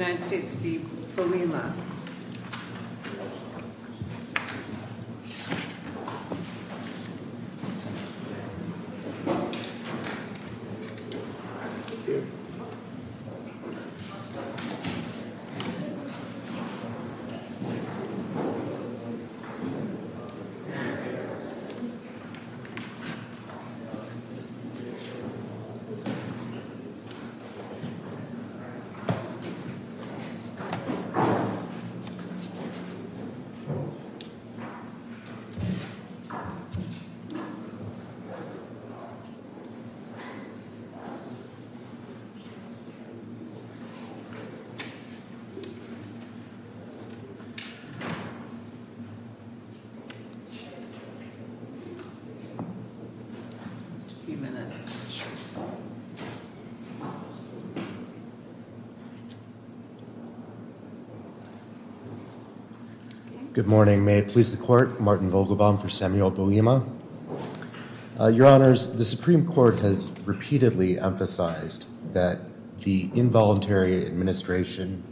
of the United States to be fully allowed. Thank you very much. Thank you very much. Good morning, may it please the court, Martin Vogelbaum for Samuel Boehme. Your honors, the Supreme Court has repeatedly emphasized that the involuntary administration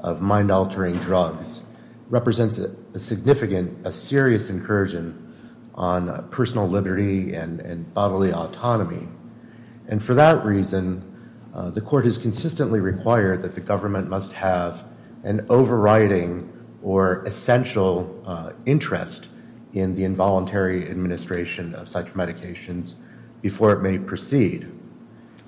of mind-altering drugs represents a significant, a serious incursion on personal liberty and bodily autonomy, and for that reason the court has consistently required that the government must have an overriding or essential interest in the involuntary administration of such medications before it may proceed.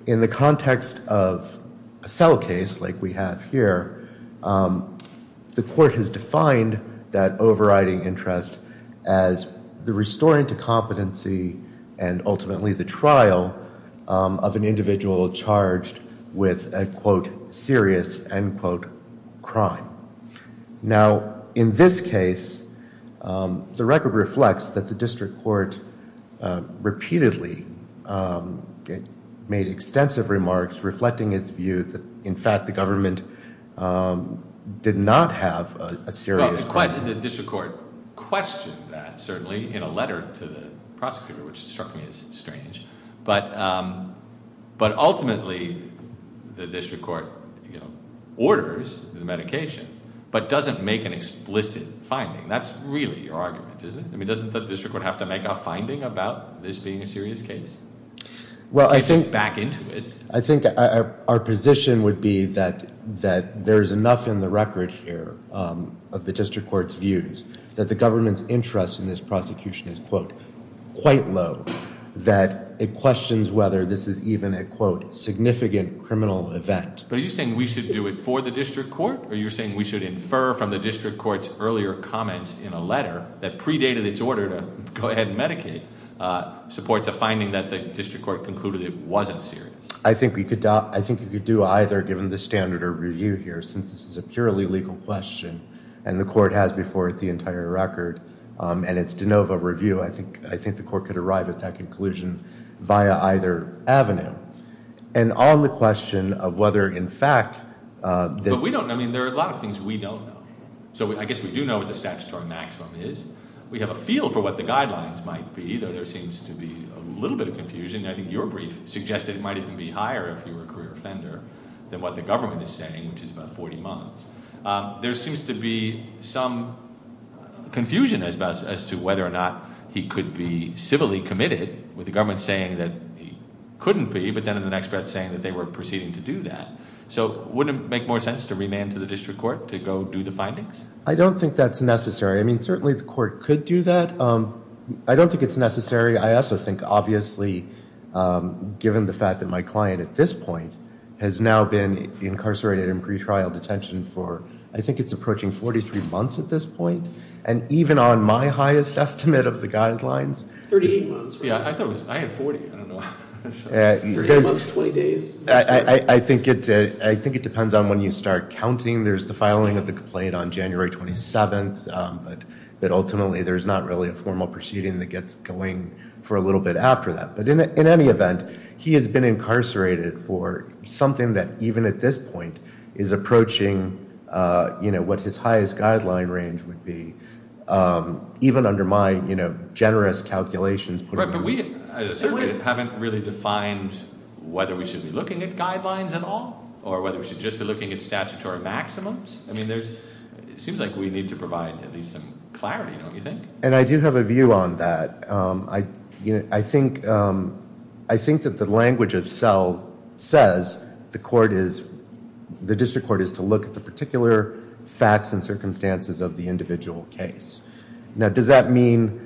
In the context of a cell case like we have here, the court has defined that overriding interest as the restoring to competency and ultimately the trial of an individual charged with a quote serious end quote crime. Now in this case, the record reflects that the district court repeatedly made extensive remarks reflecting its view that in fact the government did not have a serious crime. The district court questioned that certainly in a letter to the prosecutor, which struck me to be the district court orders the medication, but doesn't make an explicit finding. That's really your argument, isn't it? I mean, doesn't the district court have to make a finding about this being a serious case? Well, I think back into it, I think our position would be that there's enough in the record here of the district court's views that the government's interest in this prosecution is quote, quite low, that it questions whether this is even a quote significant criminal event. But are you saying we should do it for the district court or are you saying we should infer from the district court's earlier comments in a letter that predated its order to go ahead and medicate supports a finding that the district court concluded it wasn't serious? I think you could do either given the standard of review here since this is a purely legal question, and the court has before it the entire record, and it's de novo review. I think the court could arrive at that conclusion via either avenue. And on the question of whether in fact this- But we don't know. I mean, there are a lot of things we don't know. So I guess we do know what the statutory maximum is. We have a feel for what the guidelines might be, though there seems to be a little bit of confusion. I think your brief suggested it might even be higher if you were a career offender than what the government is saying, which is about 40 months. There seems to be some confusion as to whether or not he could be civilly committed with the government saying that he couldn't be, but then in the next breath saying that they were proceeding to do that. So wouldn't it make more sense to remand to the district court to go do the findings? I don't think that's necessary. I mean, certainly the court could do that. I don't think it's necessary. I also think, obviously, given the fact that my client at this point has now been incarcerated in pretrial detention for, I think it's approaching 43 months at this point, and even on my highest estimate of the guidelines- 38 months. Yeah, I thought it was- I had 40. I don't know. 38 months, 20 days. I think it depends on when you start counting. There's the filing of the complaint on January 27th, but ultimately there's not really a for a little bit after that. But in any event, he has been incarcerated for something that even at this point is approaching what his highest guideline range would be. Even under my generous calculations- Right, but we haven't really defined whether we should be looking at guidelines at all or whether we should just be looking at statutory maximums. I mean, it seems like we need to provide at least some clarity, don't you think? And I do have a view on that. I think that the language itself says the court is- the district court is to look at the particular facts and circumstances of the individual case. Now does that mean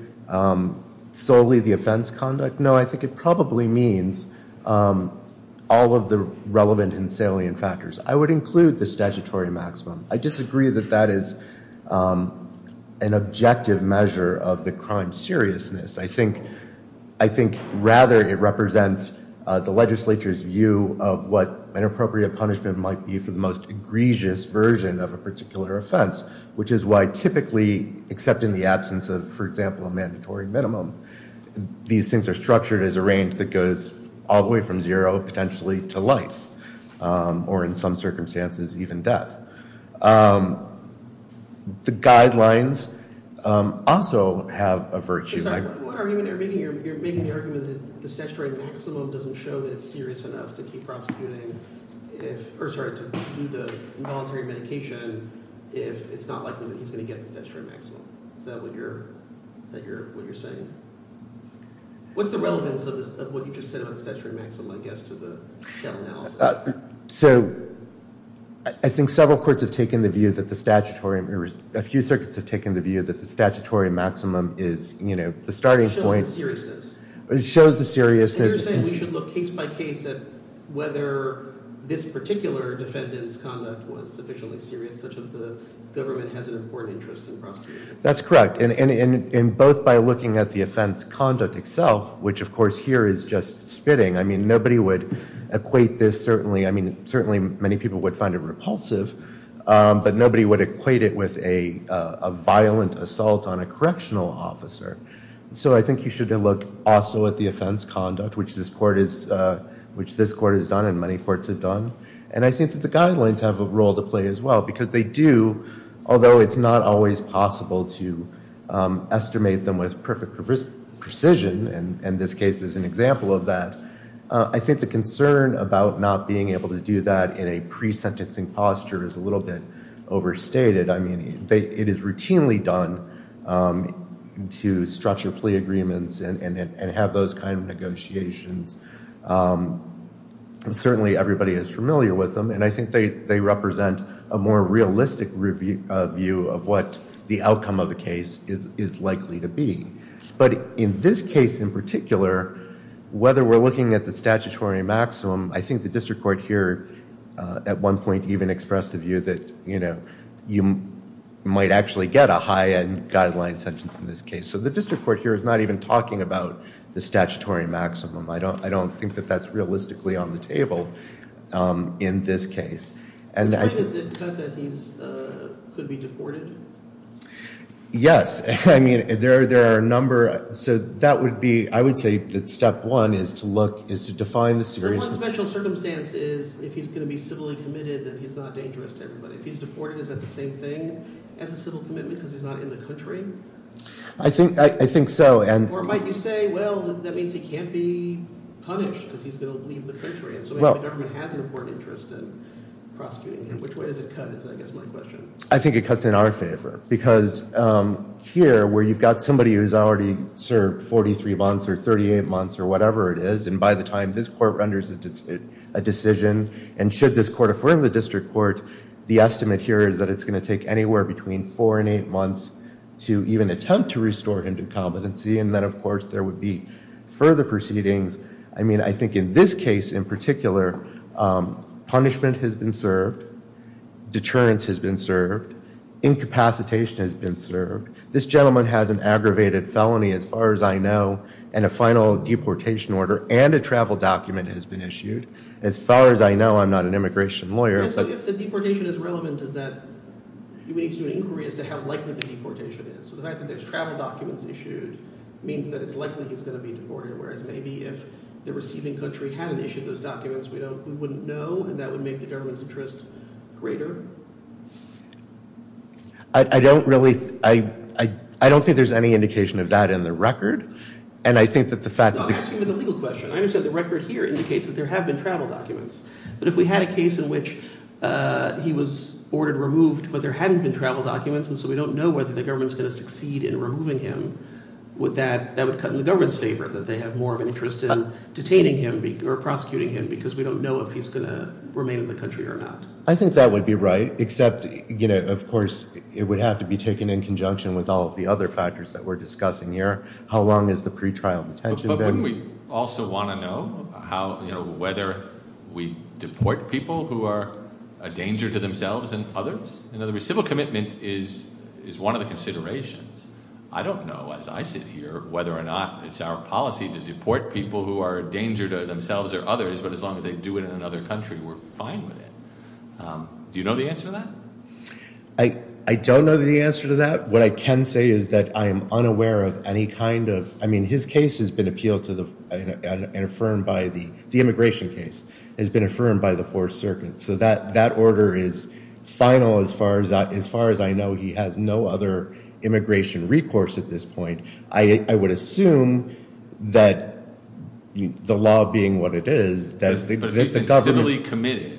solely the offense conduct? No, I think it probably means all of the relevant and salient factors. I would include the statutory maximum. I disagree that that is an objective measure of the crime seriousness. I think rather it represents the legislature's view of what an appropriate punishment might be for the most egregious version of a particular offense, which is why typically, except in the absence of, for example, a mandatory minimum, these things are structured as a range that goes all the way from zero potentially to life or in some circumstances even death. The guidelines also have a virtue. I'm sorry, what argument are you making? You're making the argument that the statutory maximum doesn't show that it's serious enough to keep prosecuting if- or sorry, to do the involuntary medication if it's not likely that he's going to get the statutory maximum. Is that what you're saying? What's the relevance of what you just said about the statutory maximum, I guess, to the cell analysis? So I think several courts have taken the view that the statutory- a few circuits have taken the view that the statutory maximum is, you know, the starting point. It shows the seriousness. It shows the seriousness. And you're saying we should look case by case at whether this particular defendant's conduct was sufficiently serious, such that the government has an important interest in prosecuting him. That's correct. And both by looking at the offense conduct itself, which of course here is just spitting. I mean, nobody would equate this certainly. I mean, certainly many people would find it repulsive. But nobody would equate it with a violent assault on a correctional officer. So I think you should look also at the offense conduct, which this court has done and many courts have done. And I think that the guidelines have a role to play as well. Because they do, although it's not always possible to estimate them with perfect precision, and this case is an example of that. I think the concern about not being able to do that in a pre-sentencing posture is a little bit overstated. I mean, it is routinely done to structure plea agreements and have those kind of negotiations. Certainly everybody is familiar with them. And I think they represent a more realistic review of what the outcome of a case is likely to be. But in this case in particular, whether we're looking at the statutory maximum, I think the district court here at one point even expressed the view that, you know, you might actually get a high-end guideline sentence in this case. So the district court here is not even talking about the statutory maximum. I don't think that that's realistically on the table in this case. And I think that he could be deported. Yes. I mean, there are a number. So that would be, I would say that step one is to look, is to define the severity. So one special circumstance is if he's going to be civilly committed that he's not dangerous to everybody. If he's deported, is that the same thing as a civil commitment because he's not in the country? I think so. Or might you say, well, that means he can't be punished because he's going to leave the country. And so maybe the government has an important interest in prosecuting him. Which way does it cut is, I guess, my question. I think it cuts in our favor because here where you've got somebody who's already served 43 months or 38 months or whatever it is, and by the time this court renders a decision, and should this court affirm the district court, the estimate here is that it's going to take anywhere between four and eight months to even attempt to restore him to competency. And then, of course, there would be further proceedings. I mean, I think in this case in particular, punishment has been served. Deterrence has been served. Incapacitation has been served. This gentleman has an aggravated felony, as far as I know, and a final deportation order and a travel document has been issued. As far as I know, I'm not an immigration lawyer. So if the deportation is relevant, is that you need to do an inquiry as to how likely the deportation is. So the fact that there's travel documents issued means that it's likely he's going to be deported. Whereas maybe if the receiving country hadn't issued those documents, we wouldn't know, and that would make the government's interest greater. I don't really, I don't think there's any indication of that in the record. And I think that the fact that the. I'm asking you the legal question. I understand the record here indicates that there have been travel documents. But if we had a case in which he was ordered removed, but there hadn't been travel documents, and so we don't know whether the government's going to succeed in removing him, would that, that would cut in the government's favor, that they have more of an interest in detaining him or prosecuting him because we don't know if he's going to remain in the country or not? I think that would be right, except, you know, of course, it would have to be taken in conjunction with all of the other factors that we're discussing here. How long has the pretrial detention been? But wouldn't we also want to know how, you know, whether we deport people who are a danger to themselves and others? In other words, civil commitment is one of the considerations. I don't know, as I sit here, whether or not it's our policy to deport people who are a danger to themselves or others, but as long as they do it in another country, we're fine with it. Do you know the answer to that? I don't know the answer to that. What I can say is that I am unaware of any kind of, I mean, his case has been appealed to the, and affirmed by the, the immigration case, has been affirmed by the Fourth Circuit. So that, that order is final as far as I, as far as I know he has no other immigration recourse at this point. I, I would assume that the law being what it is, that if the government. But if he's been civilly committed,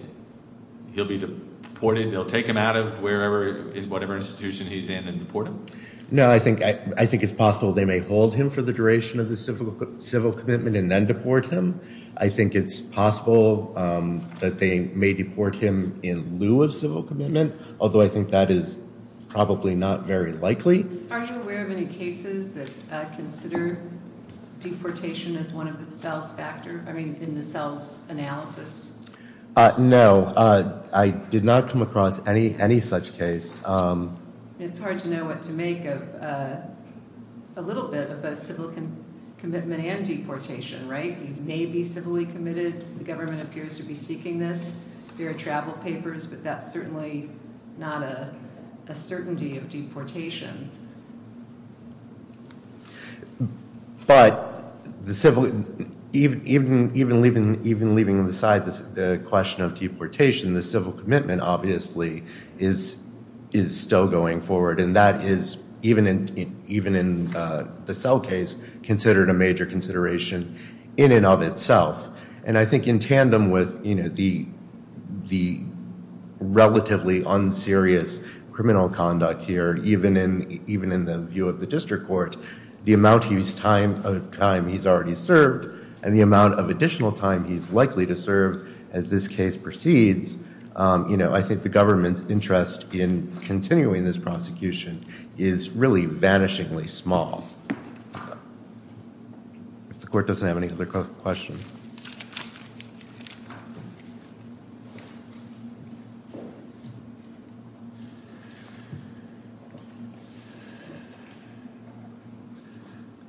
he'll be deported? They'll take him out of wherever, whatever institution he's in and deport him? No, I think, I think it's possible they may hold him for the duration of the civil, civil commitment and then deport him. I think it's possible that they may deport him in lieu of civil commitment, although I think that is probably not very likely. Are you aware of any cases that consider deportation as one of the cells factor? I mean, in the cells analysis? No, I did not come across any, any such case. It's hard to know what to make of a little bit of a civil commitment and deportation, right? He may be civilly committed, the government appears to be seeking this. There are travel papers, but that's certainly not a, a certainty of deportation. But the civil, even, even, even leaving, even leaving aside the question of deportation, the civil commitment obviously is, is still going forward. And that is, even in, even in the cell case, considered a major consideration in and of itself. And I think in tandem with, you know, the, the relatively unserious criminal conduct here, even in, even in the view of the district court, the amount he's time, of time he's already served and the amount of additional time he's likely to serve as this case proceeds, you know, I think the government's interest in continuing this prosecution is really vanishingly small. If the court doesn't have any other questions.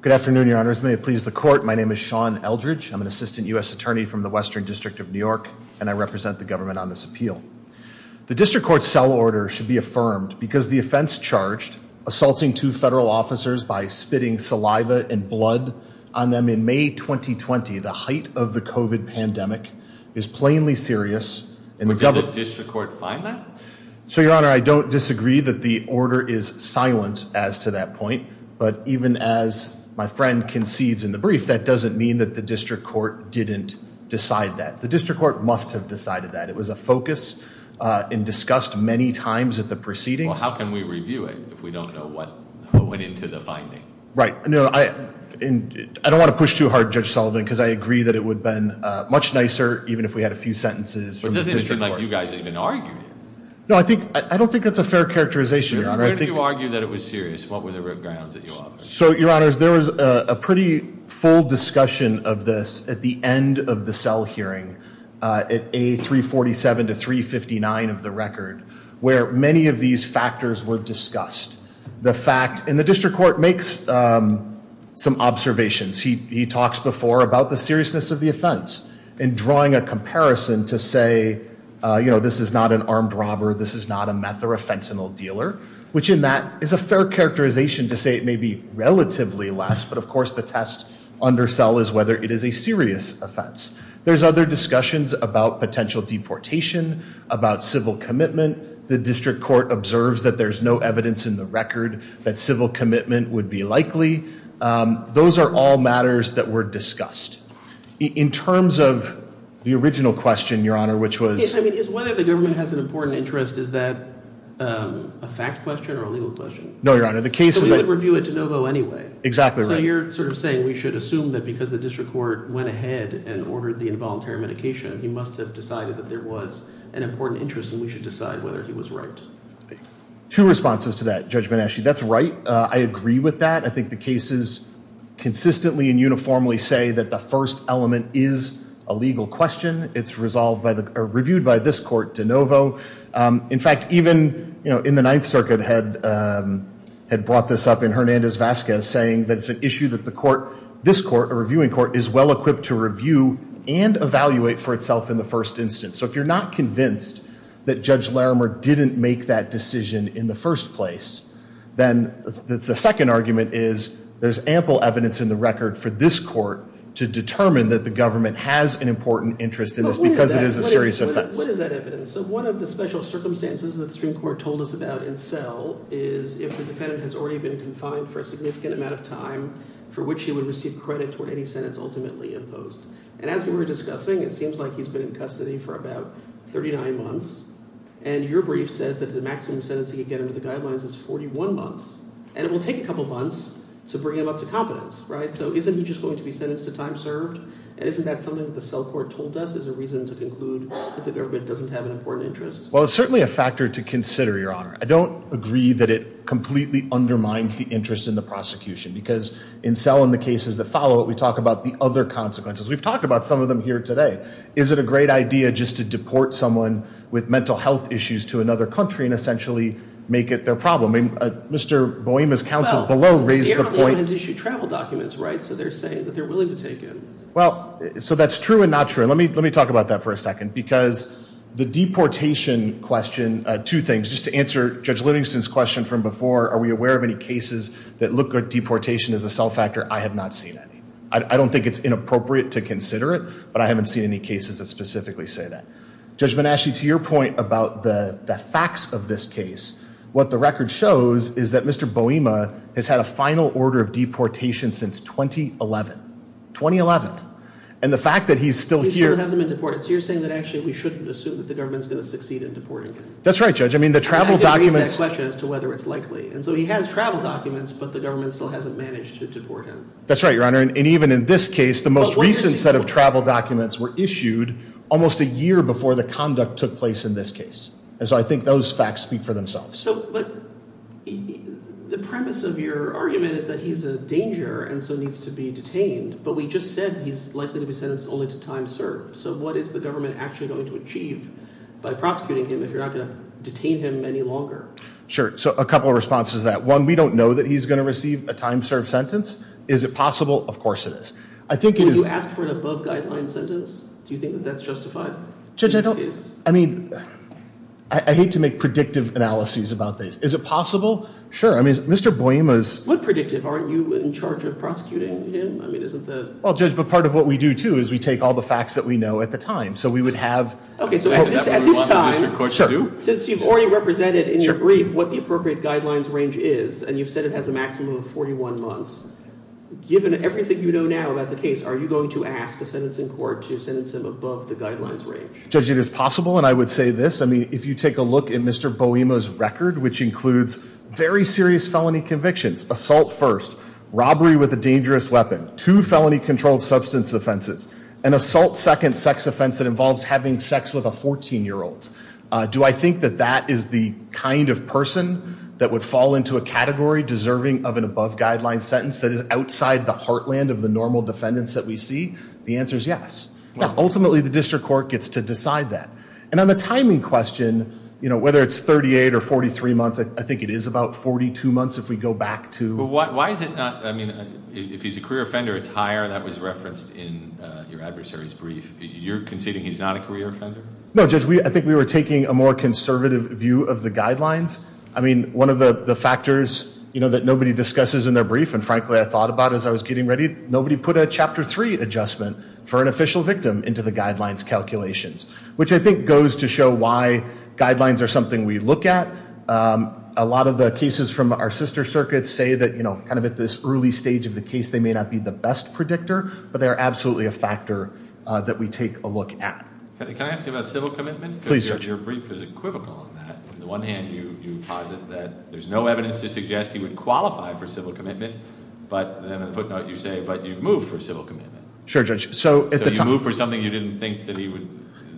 Good afternoon, your honors, may it please the court, my name is Sean Eldridge. I'm an assistant U.S. attorney from the Western District of New York, and I represent the government on this appeal. The district court's cell order should be affirmed because the offense charged, assaulting two federal officers by spitting saliva and blood on them in May, 2020, the height of the COVID pandemic is plainly serious. And the government. Did the district court find that? So your honor, I don't disagree that the order is silent as to that point, but even as my friend concedes in the brief, that doesn't mean that the district court didn't decide that. The district court must have decided that. It was a focus and discussed many times at the proceedings. Well, how can we review it if we don't know what went into the finding? Right, no, I don't want to push too hard, Judge Sullivan, because I agree that it would have been much nicer even if we had a few sentences. But doesn't it seem like you guys even argued it? No, I don't think that's a fair characterization, your honor. But if you argue that it was serious, what were the root grounds that you offered? So, your honors, there was a pretty full discussion of this at the end of the cell hearing, at A347 to 359 of the record, where many of these factors were discussed. The fact, and the district court makes some observations. He talks before about the seriousness of the offense. In drawing a comparison to say, this is not an armed robber, this is not a meth or a fentanyl dealer, which in that is a fair characterization to say it may be relatively less. But of course, the test under cell is whether it is a serious offense. There's other discussions about potential deportation, about civil commitment. The district court observes that there's no evidence in the record that civil commitment would be likely. Those are all matters that were discussed. In terms of the original question, your honor, which was- I mean, is whether the government has an important interest, is that a fact question or a legal question? No, your honor, the case is- So we would review it to no vote anyway. Exactly right. So you're sort of saying we should assume that because the district court went ahead and ordered the involuntary medication, he must have decided that there was an important interest and we should decide whether he was right. Two responses to that, Judge Beneschi. That's right, I agree with that. I think the cases consistently and uniformly say that the first element is a legal question. It's reviewed by this court to no vote. In fact, even in the Ninth Circuit had brought this up in Hernandez-Vasquez, saying that it's an issue that this court, a reviewing court, is well equipped to review and evaluate for itself in the first instance. So if you're not convinced that Judge Larimer didn't make that decision in the first place, then the second argument is there's ample evidence in the record for this court to determine that the government has an important interest in this because it is a serious offense. What is that evidence? So one of the special circumstances that the Supreme Court told us about in cell is if the defendant has already been confined for a significant amount of time for which he would receive credit toward any sentence ultimately imposed. And as we were discussing, it seems like he's been in custody for about 39 months. And your brief says that the maximum sentence he could get under the guidelines is 41 months. And it will take a couple months to bring him up to competence, right? So isn't he just going to be sentenced to time served? And isn't that something that the cell court told us as a reason to conclude that the government doesn't have an important interest? Well, it's certainly a factor to consider, Your Honor. I don't agree that it completely undermines the interest in the prosecution. Because in cell and the cases that follow it, we talk about the other consequences. We've talked about some of them here today. Is it a great idea just to deport someone with mental health issues to another country and essentially make it their problem? I mean, Mr. Boima's counsel below raised the point- Right, so they're saying that they're willing to take him. Well, so that's true and not true. And let me talk about that for a second. Because the deportation question, two things. Just to answer Judge Livingston's question from before, are we aware of any cases that look at deportation as a cell factor? I have not seen any. I don't think it's inappropriate to consider it. But I haven't seen any cases that specifically say that. Judge Benashi, to your point about the facts of this case, what the record shows is that Mr. Boima has had a final order of deportation since 2011. 2011. And the fact that he's still here- He still hasn't been deported. So you're saying that actually we shouldn't assume that the government's going to succeed in deporting him. That's right, Judge. I mean, the travel documents- I didn't raise that question as to whether it's likely. And so he has travel documents, but the government still hasn't managed to deport him. That's right, Your Honor. And even in this case, the most recent set of travel documents were issued almost a year before the conduct took place in this case. And so I think those facts speak for themselves. So, but the premise of your argument is that he's a danger and so needs to be detained. But we just said he's likely to be sentenced only to time served. So what is the government actually going to achieve by prosecuting him if you're not going to detain him any longer? Sure. So a couple of responses to that. One, we don't know that he's going to receive a time served sentence. Is it possible? Of course it is. I think it is- Will you ask for an above guideline sentence? Do you think that that's justified? Judge, I don't- I hate to make predictive analyses about this. Is it possible? Sure. I mean, Mr. Boehm is- What predictive? Aren't you in charge of prosecuting him? I mean, isn't the- Well, Judge, but part of what we do, too, is we take all the facts that we know at the time. So we would have- Okay, so at this time, since you've already represented in your brief what the appropriate guidelines range is, and you've said it has a maximum of 41 months, given everything you know now about the case, are you going to ask a sentencing court to sentence him above the guidelines range? Judge, it is possible. And I would say this. I mean, if you take a look at Mr. Boehm's record, which includes very serious felony convictions, assault first, robbery with a dangerous weapon, two felony controlled substance offenses, an assault second sex offense that involves having sex with a 14-year-old. Do I think that that is the kind of person that would fall into a category deserving of an above guideline sentence that is outside the heartland of the normal defendants that we see? The answer is yes. Ultimately, the district court gets to decide that. And on the timing question, whether it's 38 or 43 months, I think it is about 42 months if we go back to- But why is it not, I mean, if he's a career offender, it's higher, and that was referenced in your adversary's brief. You're conceding he's not a career offender? No, Judge, I think we were taking a more conservative view of the guidelines. I mean, one of the factors that nobody discusses in their brief, and frankly, I thought about it as I was getting ready. Nobody put a chapter three adjustment for an official victim into the guidelines calculations, which I think goes to show why guidelines are something we look at. A lot of the cases from our sister circuits say that kind of at this early stage of the case, they may not be the best predictor, but they are absolutely a factor that we take a look at. Can I ask you about civil commitment? Please, Judge. Your brief is equivocal on that. On the one hand, you posit that there's no evidence to suggest he would qualify for civil commitment. But, and then a footnote, you say, but you've moved for civil commitment. Sure, Judge, so at the time- So you moved for something you didn't think that he would,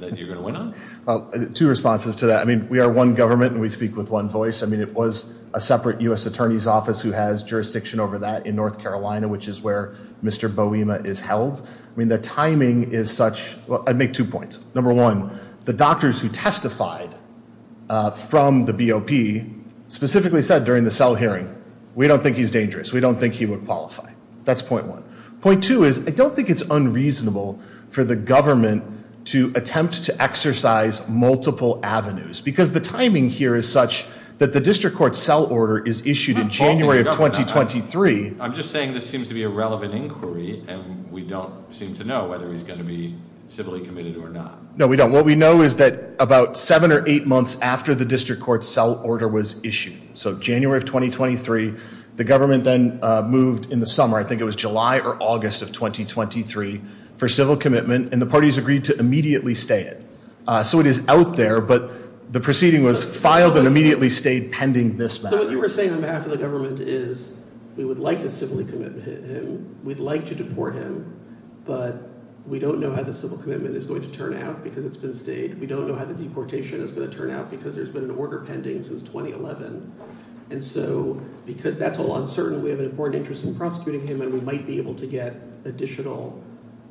that you're going to win on? Well, two responses to that. I mean, we are one government, and we speak with one voice. I mean, it was a separate US Attorney's Office who has jurisdiction over that in North Carolina, which is where Mr. Boema is held. I mean, the timing is such, well, I'd make two points. Number one, the doctors who testified from the BOP specifically said during the cell hearing, we don't think he's dangerous, we don't think he would qualify. That's point one. Point two is, I don't think it's unreasonable for the government to attempt to exercise multiple avenues. Because the timing here is such that the district court cell order is issued in January of 2023. I'm just saying this seems to be a relevant inquiry, and we don't seem to know whether he's going to be civilly committed or not. No, we don't. What we know is that about seven or eight months after the district court cell order was issued, so January of 2023, the government then moved in the summer, I think it was July or August of 2023, for civil commitment. And the parties agreed to immediately stay it. So it is out there, but the proceeding was filed and immediately stayed pending this matter. So what you were saying on behalf of the government is, we would like to civilly commit him, we'd like to deport him. But we don't know how the civil commitment is going to turn out because it's been stayed. We don't know how the deportation is going to turn out because there's been an order pending since 2011. And so, because that's all uncertain, we have an important interest in prosecuting him, and we might be able to get additional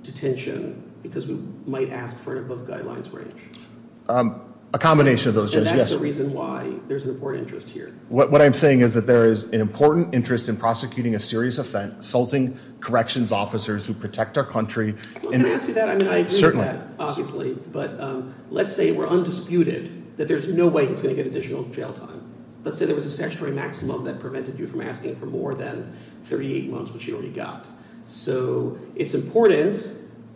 detention because we might ask for an above guidelines range. A combination of those, yes. And that's the reason why there's an important interest here. What I'm saying is that there is an important interest in prosecuting a serious offense, assaulting corrections officers who protect our country. Can I ask you that? I mean, I agree with that, obviously. But let's say we're undisputed that there's no way he's going to get additional jail time. Let's say there was a statutory maximum that prevented you from asking for more than 38 months, which you already got. So it's important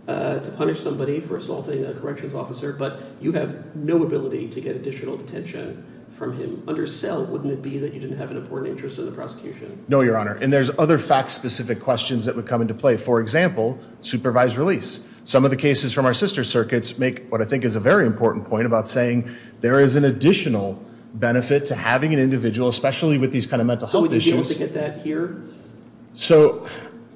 to punish somebody for assaulting a corrections officer, but you have no ability to get additional detention from him. Under cell, wouldn't it be that you didn't have an important interest in the prosecution? No, Your Honor. And there's other fact specific questions that would come into play. For example, supervised release. Some of the cases from our sister circuits make what I think is a very important point about saying there is an additional benefit to having an individual, especially with these kind of mental health issues. So would you be able to get that here? So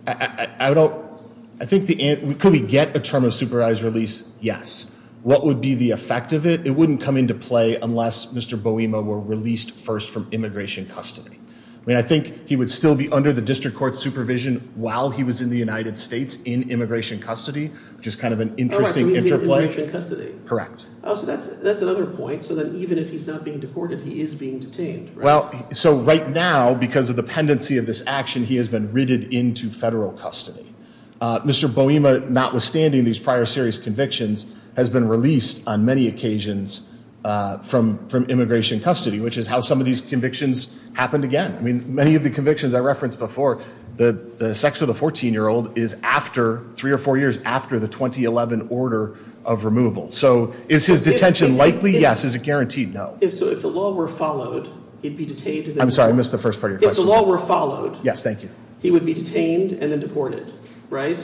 I think, could we get a term of supervised release? Yes. What would be the effect of it? It wouldn't come into play unless Mr. Boema were released first from immigration custody. I mean, I think he would still be under the district court supervision while he was in the United States in immigration custody, which is kind of an interesting interplay. Oh, right. So he's in immigration custody? Correct. Oh, so that's another point. So then even if he's not being deported, he is being detained, right? Well, so right now, because of the pendency of this action, he has been ridded into federal custody. Mr. Boema, notwithstanding these prior serious convictions, has been released on many occasions from immigration custody, which is how some of these convictions happened again. I mean, many of the convictions I referenced before, the sex of the 14-year-old is after, three or four years after the 2011 order of removal. So is his detention likely? Yes. Is it guaranteed? No. So if the law were followed, he'd be detained? I'm sorry, I missed the first part of your question. If the law were followed, he would be detained and then deported, right?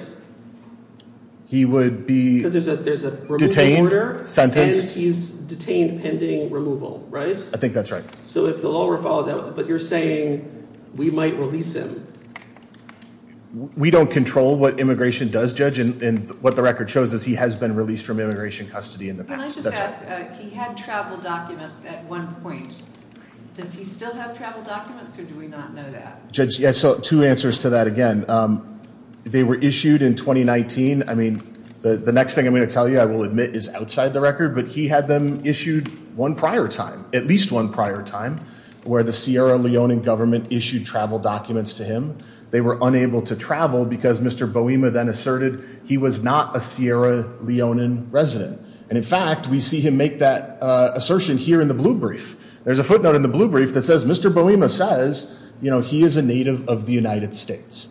He would be detained, sentenced. And he's detained pending removal, right? I think that's right. So if the law were followed, but you're saying we might release him? We don't control what immigration does, Judge. And what the record shows is he has been released from immigration custody in the past. Can I just ask, he had travel documents at one point. Does he still have travel documents or do we not know that? Judge, yes, so two answers to that. Again, they were issued in 2019. I mean, the next thing I'm going to tell you, I will admit, is outside the record. But he had them issued one prior time, at least one prior time, where the Sierra Leonean government issued travel documents to him. They were unable to travel because Mr. Boema then asserted he was not a Sierra Leonean resident. And in fact, we see him make that assertion here in the blue brief. There's a footnote in the blue brief that says, Mr. Boema says, you know, he is a native of the United States.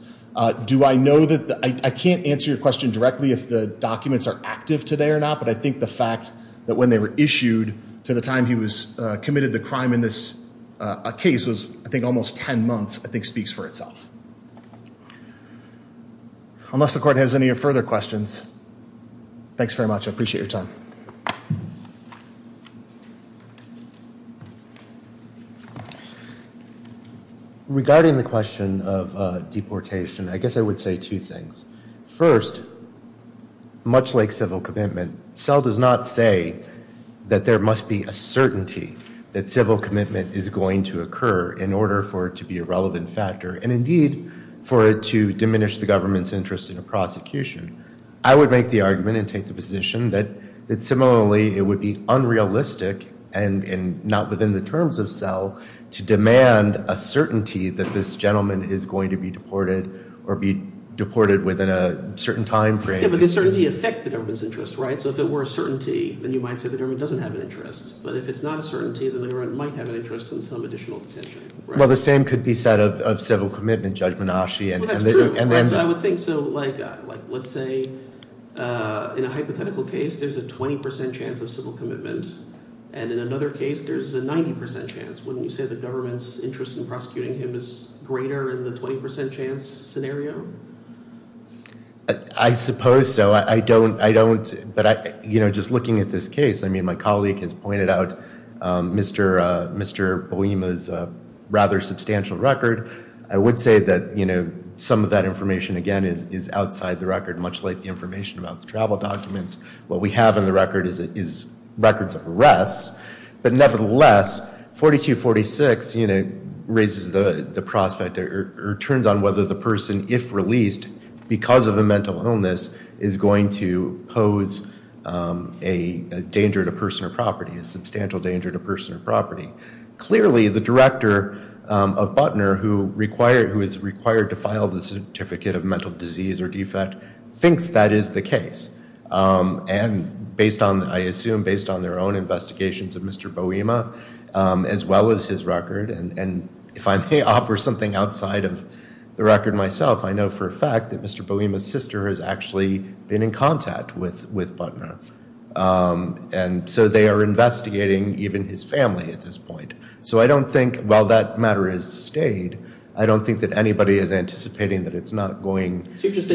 Do I know that, I can't answer your question directly if the documents are active today or not. But I think the fact that when they were issued to the time he was committed the crime in this case was, I think, almost 10 months, I think speaks for itself. Unless the court has any further questions, thanks very much, I appreciate your time. Regarding the question of deportation, I guess I would say two things. First, much like civil commitment, SELL does not say that there must be a certainty that civil commitment is going to occur in order for it to be a relevant factor. And indeed, for it to diminish the government's interest in a prosecution. I would make the argument and take the position that similarly it would be unrealistic and not within the terms of SELL to demand a certainty that this gentleman is going to be deported or be deported within a certain time frame. Yeah, but the certainty affects the government's interest, right? So if it were a certainty, then you might say the government doesn't have an interest. But if it's not a certainty, then the government might have an interest in some additional detention. Well, the same could be said of civil commitment, Judge Menasche. Well, that's true. And then. I would think so, like, let's say in a hypothetical case, there's a 20% chance of civil commitment. And in another case, there's a 90% chance. Wouldn't you say the government's interest in prosecuting him is greater than the 20% chance scenario? I suppose so. I don't. But, you know, just looking at this case, I mean, my colleague has pointed out Mr. Boehma's rather substantial record. I would say that, you know, some of that information, again, is outside the record, much like the information about the travel documents. What we have in the record is records of arrests. But nevertheless, 4246, you know, raises the prospect or turns on whether the person, if released because of a mental illness, is going to pose a danger to personal property, a substantial danger to personal property. Clearly, the director of Butner, who is required to file the Certificate of Mental Disease or Defect, thinks that is the case. And based on, I assume, based on their own investigations of Mr. Boehma as well as his record, and if I may offer something outside of the record myself, I know for a fact that Mr. Boehma's sister has actually been in contact with Butner. And so they are investigating even his family at this point. So I don't think, while that matter has stayed, I don't think that anybody is anticipating that it's not going. So you're just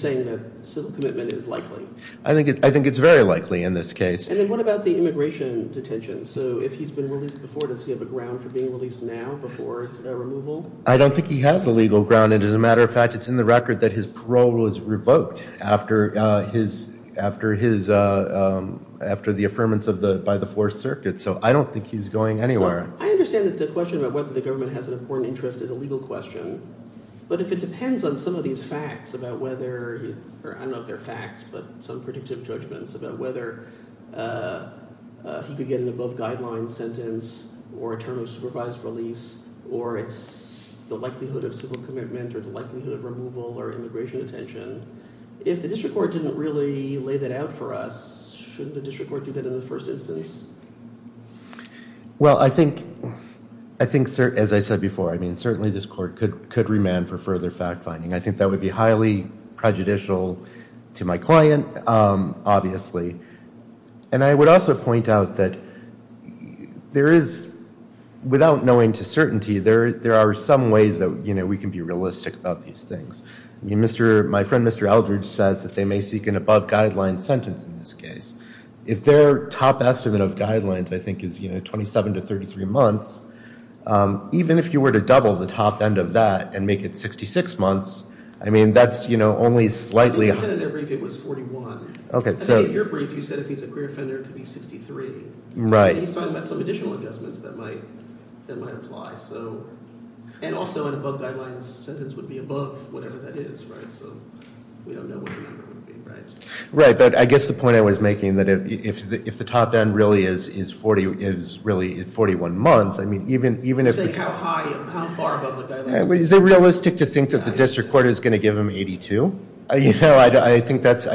saying that civil commitment is likely? I think it's very likely in this case. And then what about the immigration detention? So if he's been released before, does he have a ground for being released now before removal? I don't think he has a legal ground. And as a matter of fact, it's in the record that his parole was revoked after the affirmance by the Fourth Circuit. So I don't think he's going anywhere. I understand that the question about whether the government has an important interest is a legal question. But if it depends on some of these facts about whether, or I don't know if they're facts, but some predictive judgments about whether he could get an above guideline sentence, or a term of supervised release, or it's the likelihood of civil commitment, or the likelihood of removal, or immigration detention, if the district court didn't really lay that out for us, shouldn't the district court do that in the first instance? Well, I think, as I said before, I mean, certainly this court could remand for further fact finding. I think that would be highly prejudicial to my client, obviously. And I would also point out that there is, without knowing to certainty, there are some ways that we can be realistic about these things. My friend, Mr. Eldridge, says that they may seek an above guideline sentence in this case. If their top estimate of guidelines, I think, is 27 to 33 months, even if you were to double the top end of that and make it 66 months, I mean, that's only slightly... I think you said in their brief it was 41. Okay, so... In your brief, you said if he's a queer offender, it could be 63. Right. And he's talking about some additional adjustments that might apply. And also, an above guidelines sentence would be above whatever that is, right? So we don't know what the number would be, right? Right. But I guess the point I was making that if the top end really is 41 months, I mean, even if... You're saying how far above the guidelines... Is it realistic to think that the district court is going to give him 82? I think that's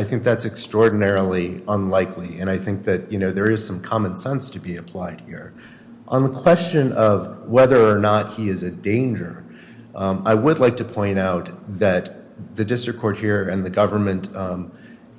extraordinarily unlikely. And I think that there is some common sense to be applied here. On the question of whether or not he is a danger, I would like to point out that the district court here and the government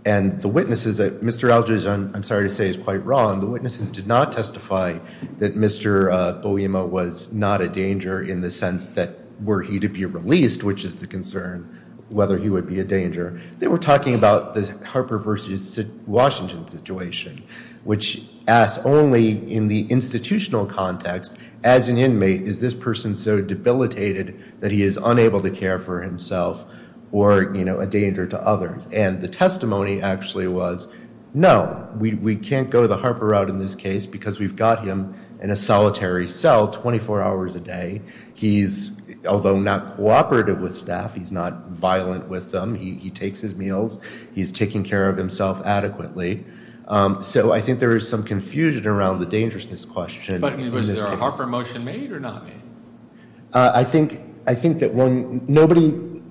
and the witnesses that... Mr. Eldridge, I'm sorry to say, is quite wrong. The witnesses did not testify that Mr. Bowiema was not a danger in the sense that were he to be released, which is the concern, whether he would be a danger. They were talking about the Harper versus Washington situation, which asked only in the institutional context, as an inmate, is this person so debilitated that he is unable to care for himself or a danger to others? And the testimony actually was, no, we can't go the Harper route in this case because we've got him in a solitary cell 24 hours a day. He's, although not cooperative with staff, he's not violent with them. He takes his meals. He's taking care of himself adequately. So I think there is some confusion around the dangerousness question. But was there a Harper motion made or not made? I think that when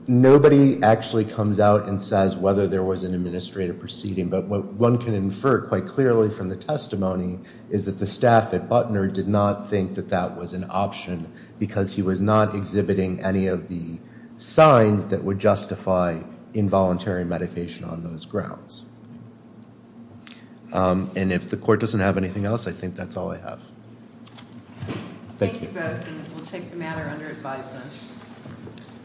nobody actually comes out and says whether there was an administrative proceeding, but what one can infer quite clearly from the testimony is that the staff at Butner did not think that that was an option because he was not exhibiting any of the signs that would justify involuntary medication on those grounds. And if the court doesn't have anything else, I think that's all I have. Thank you. Thank you both. And we'll take the matter under advisement.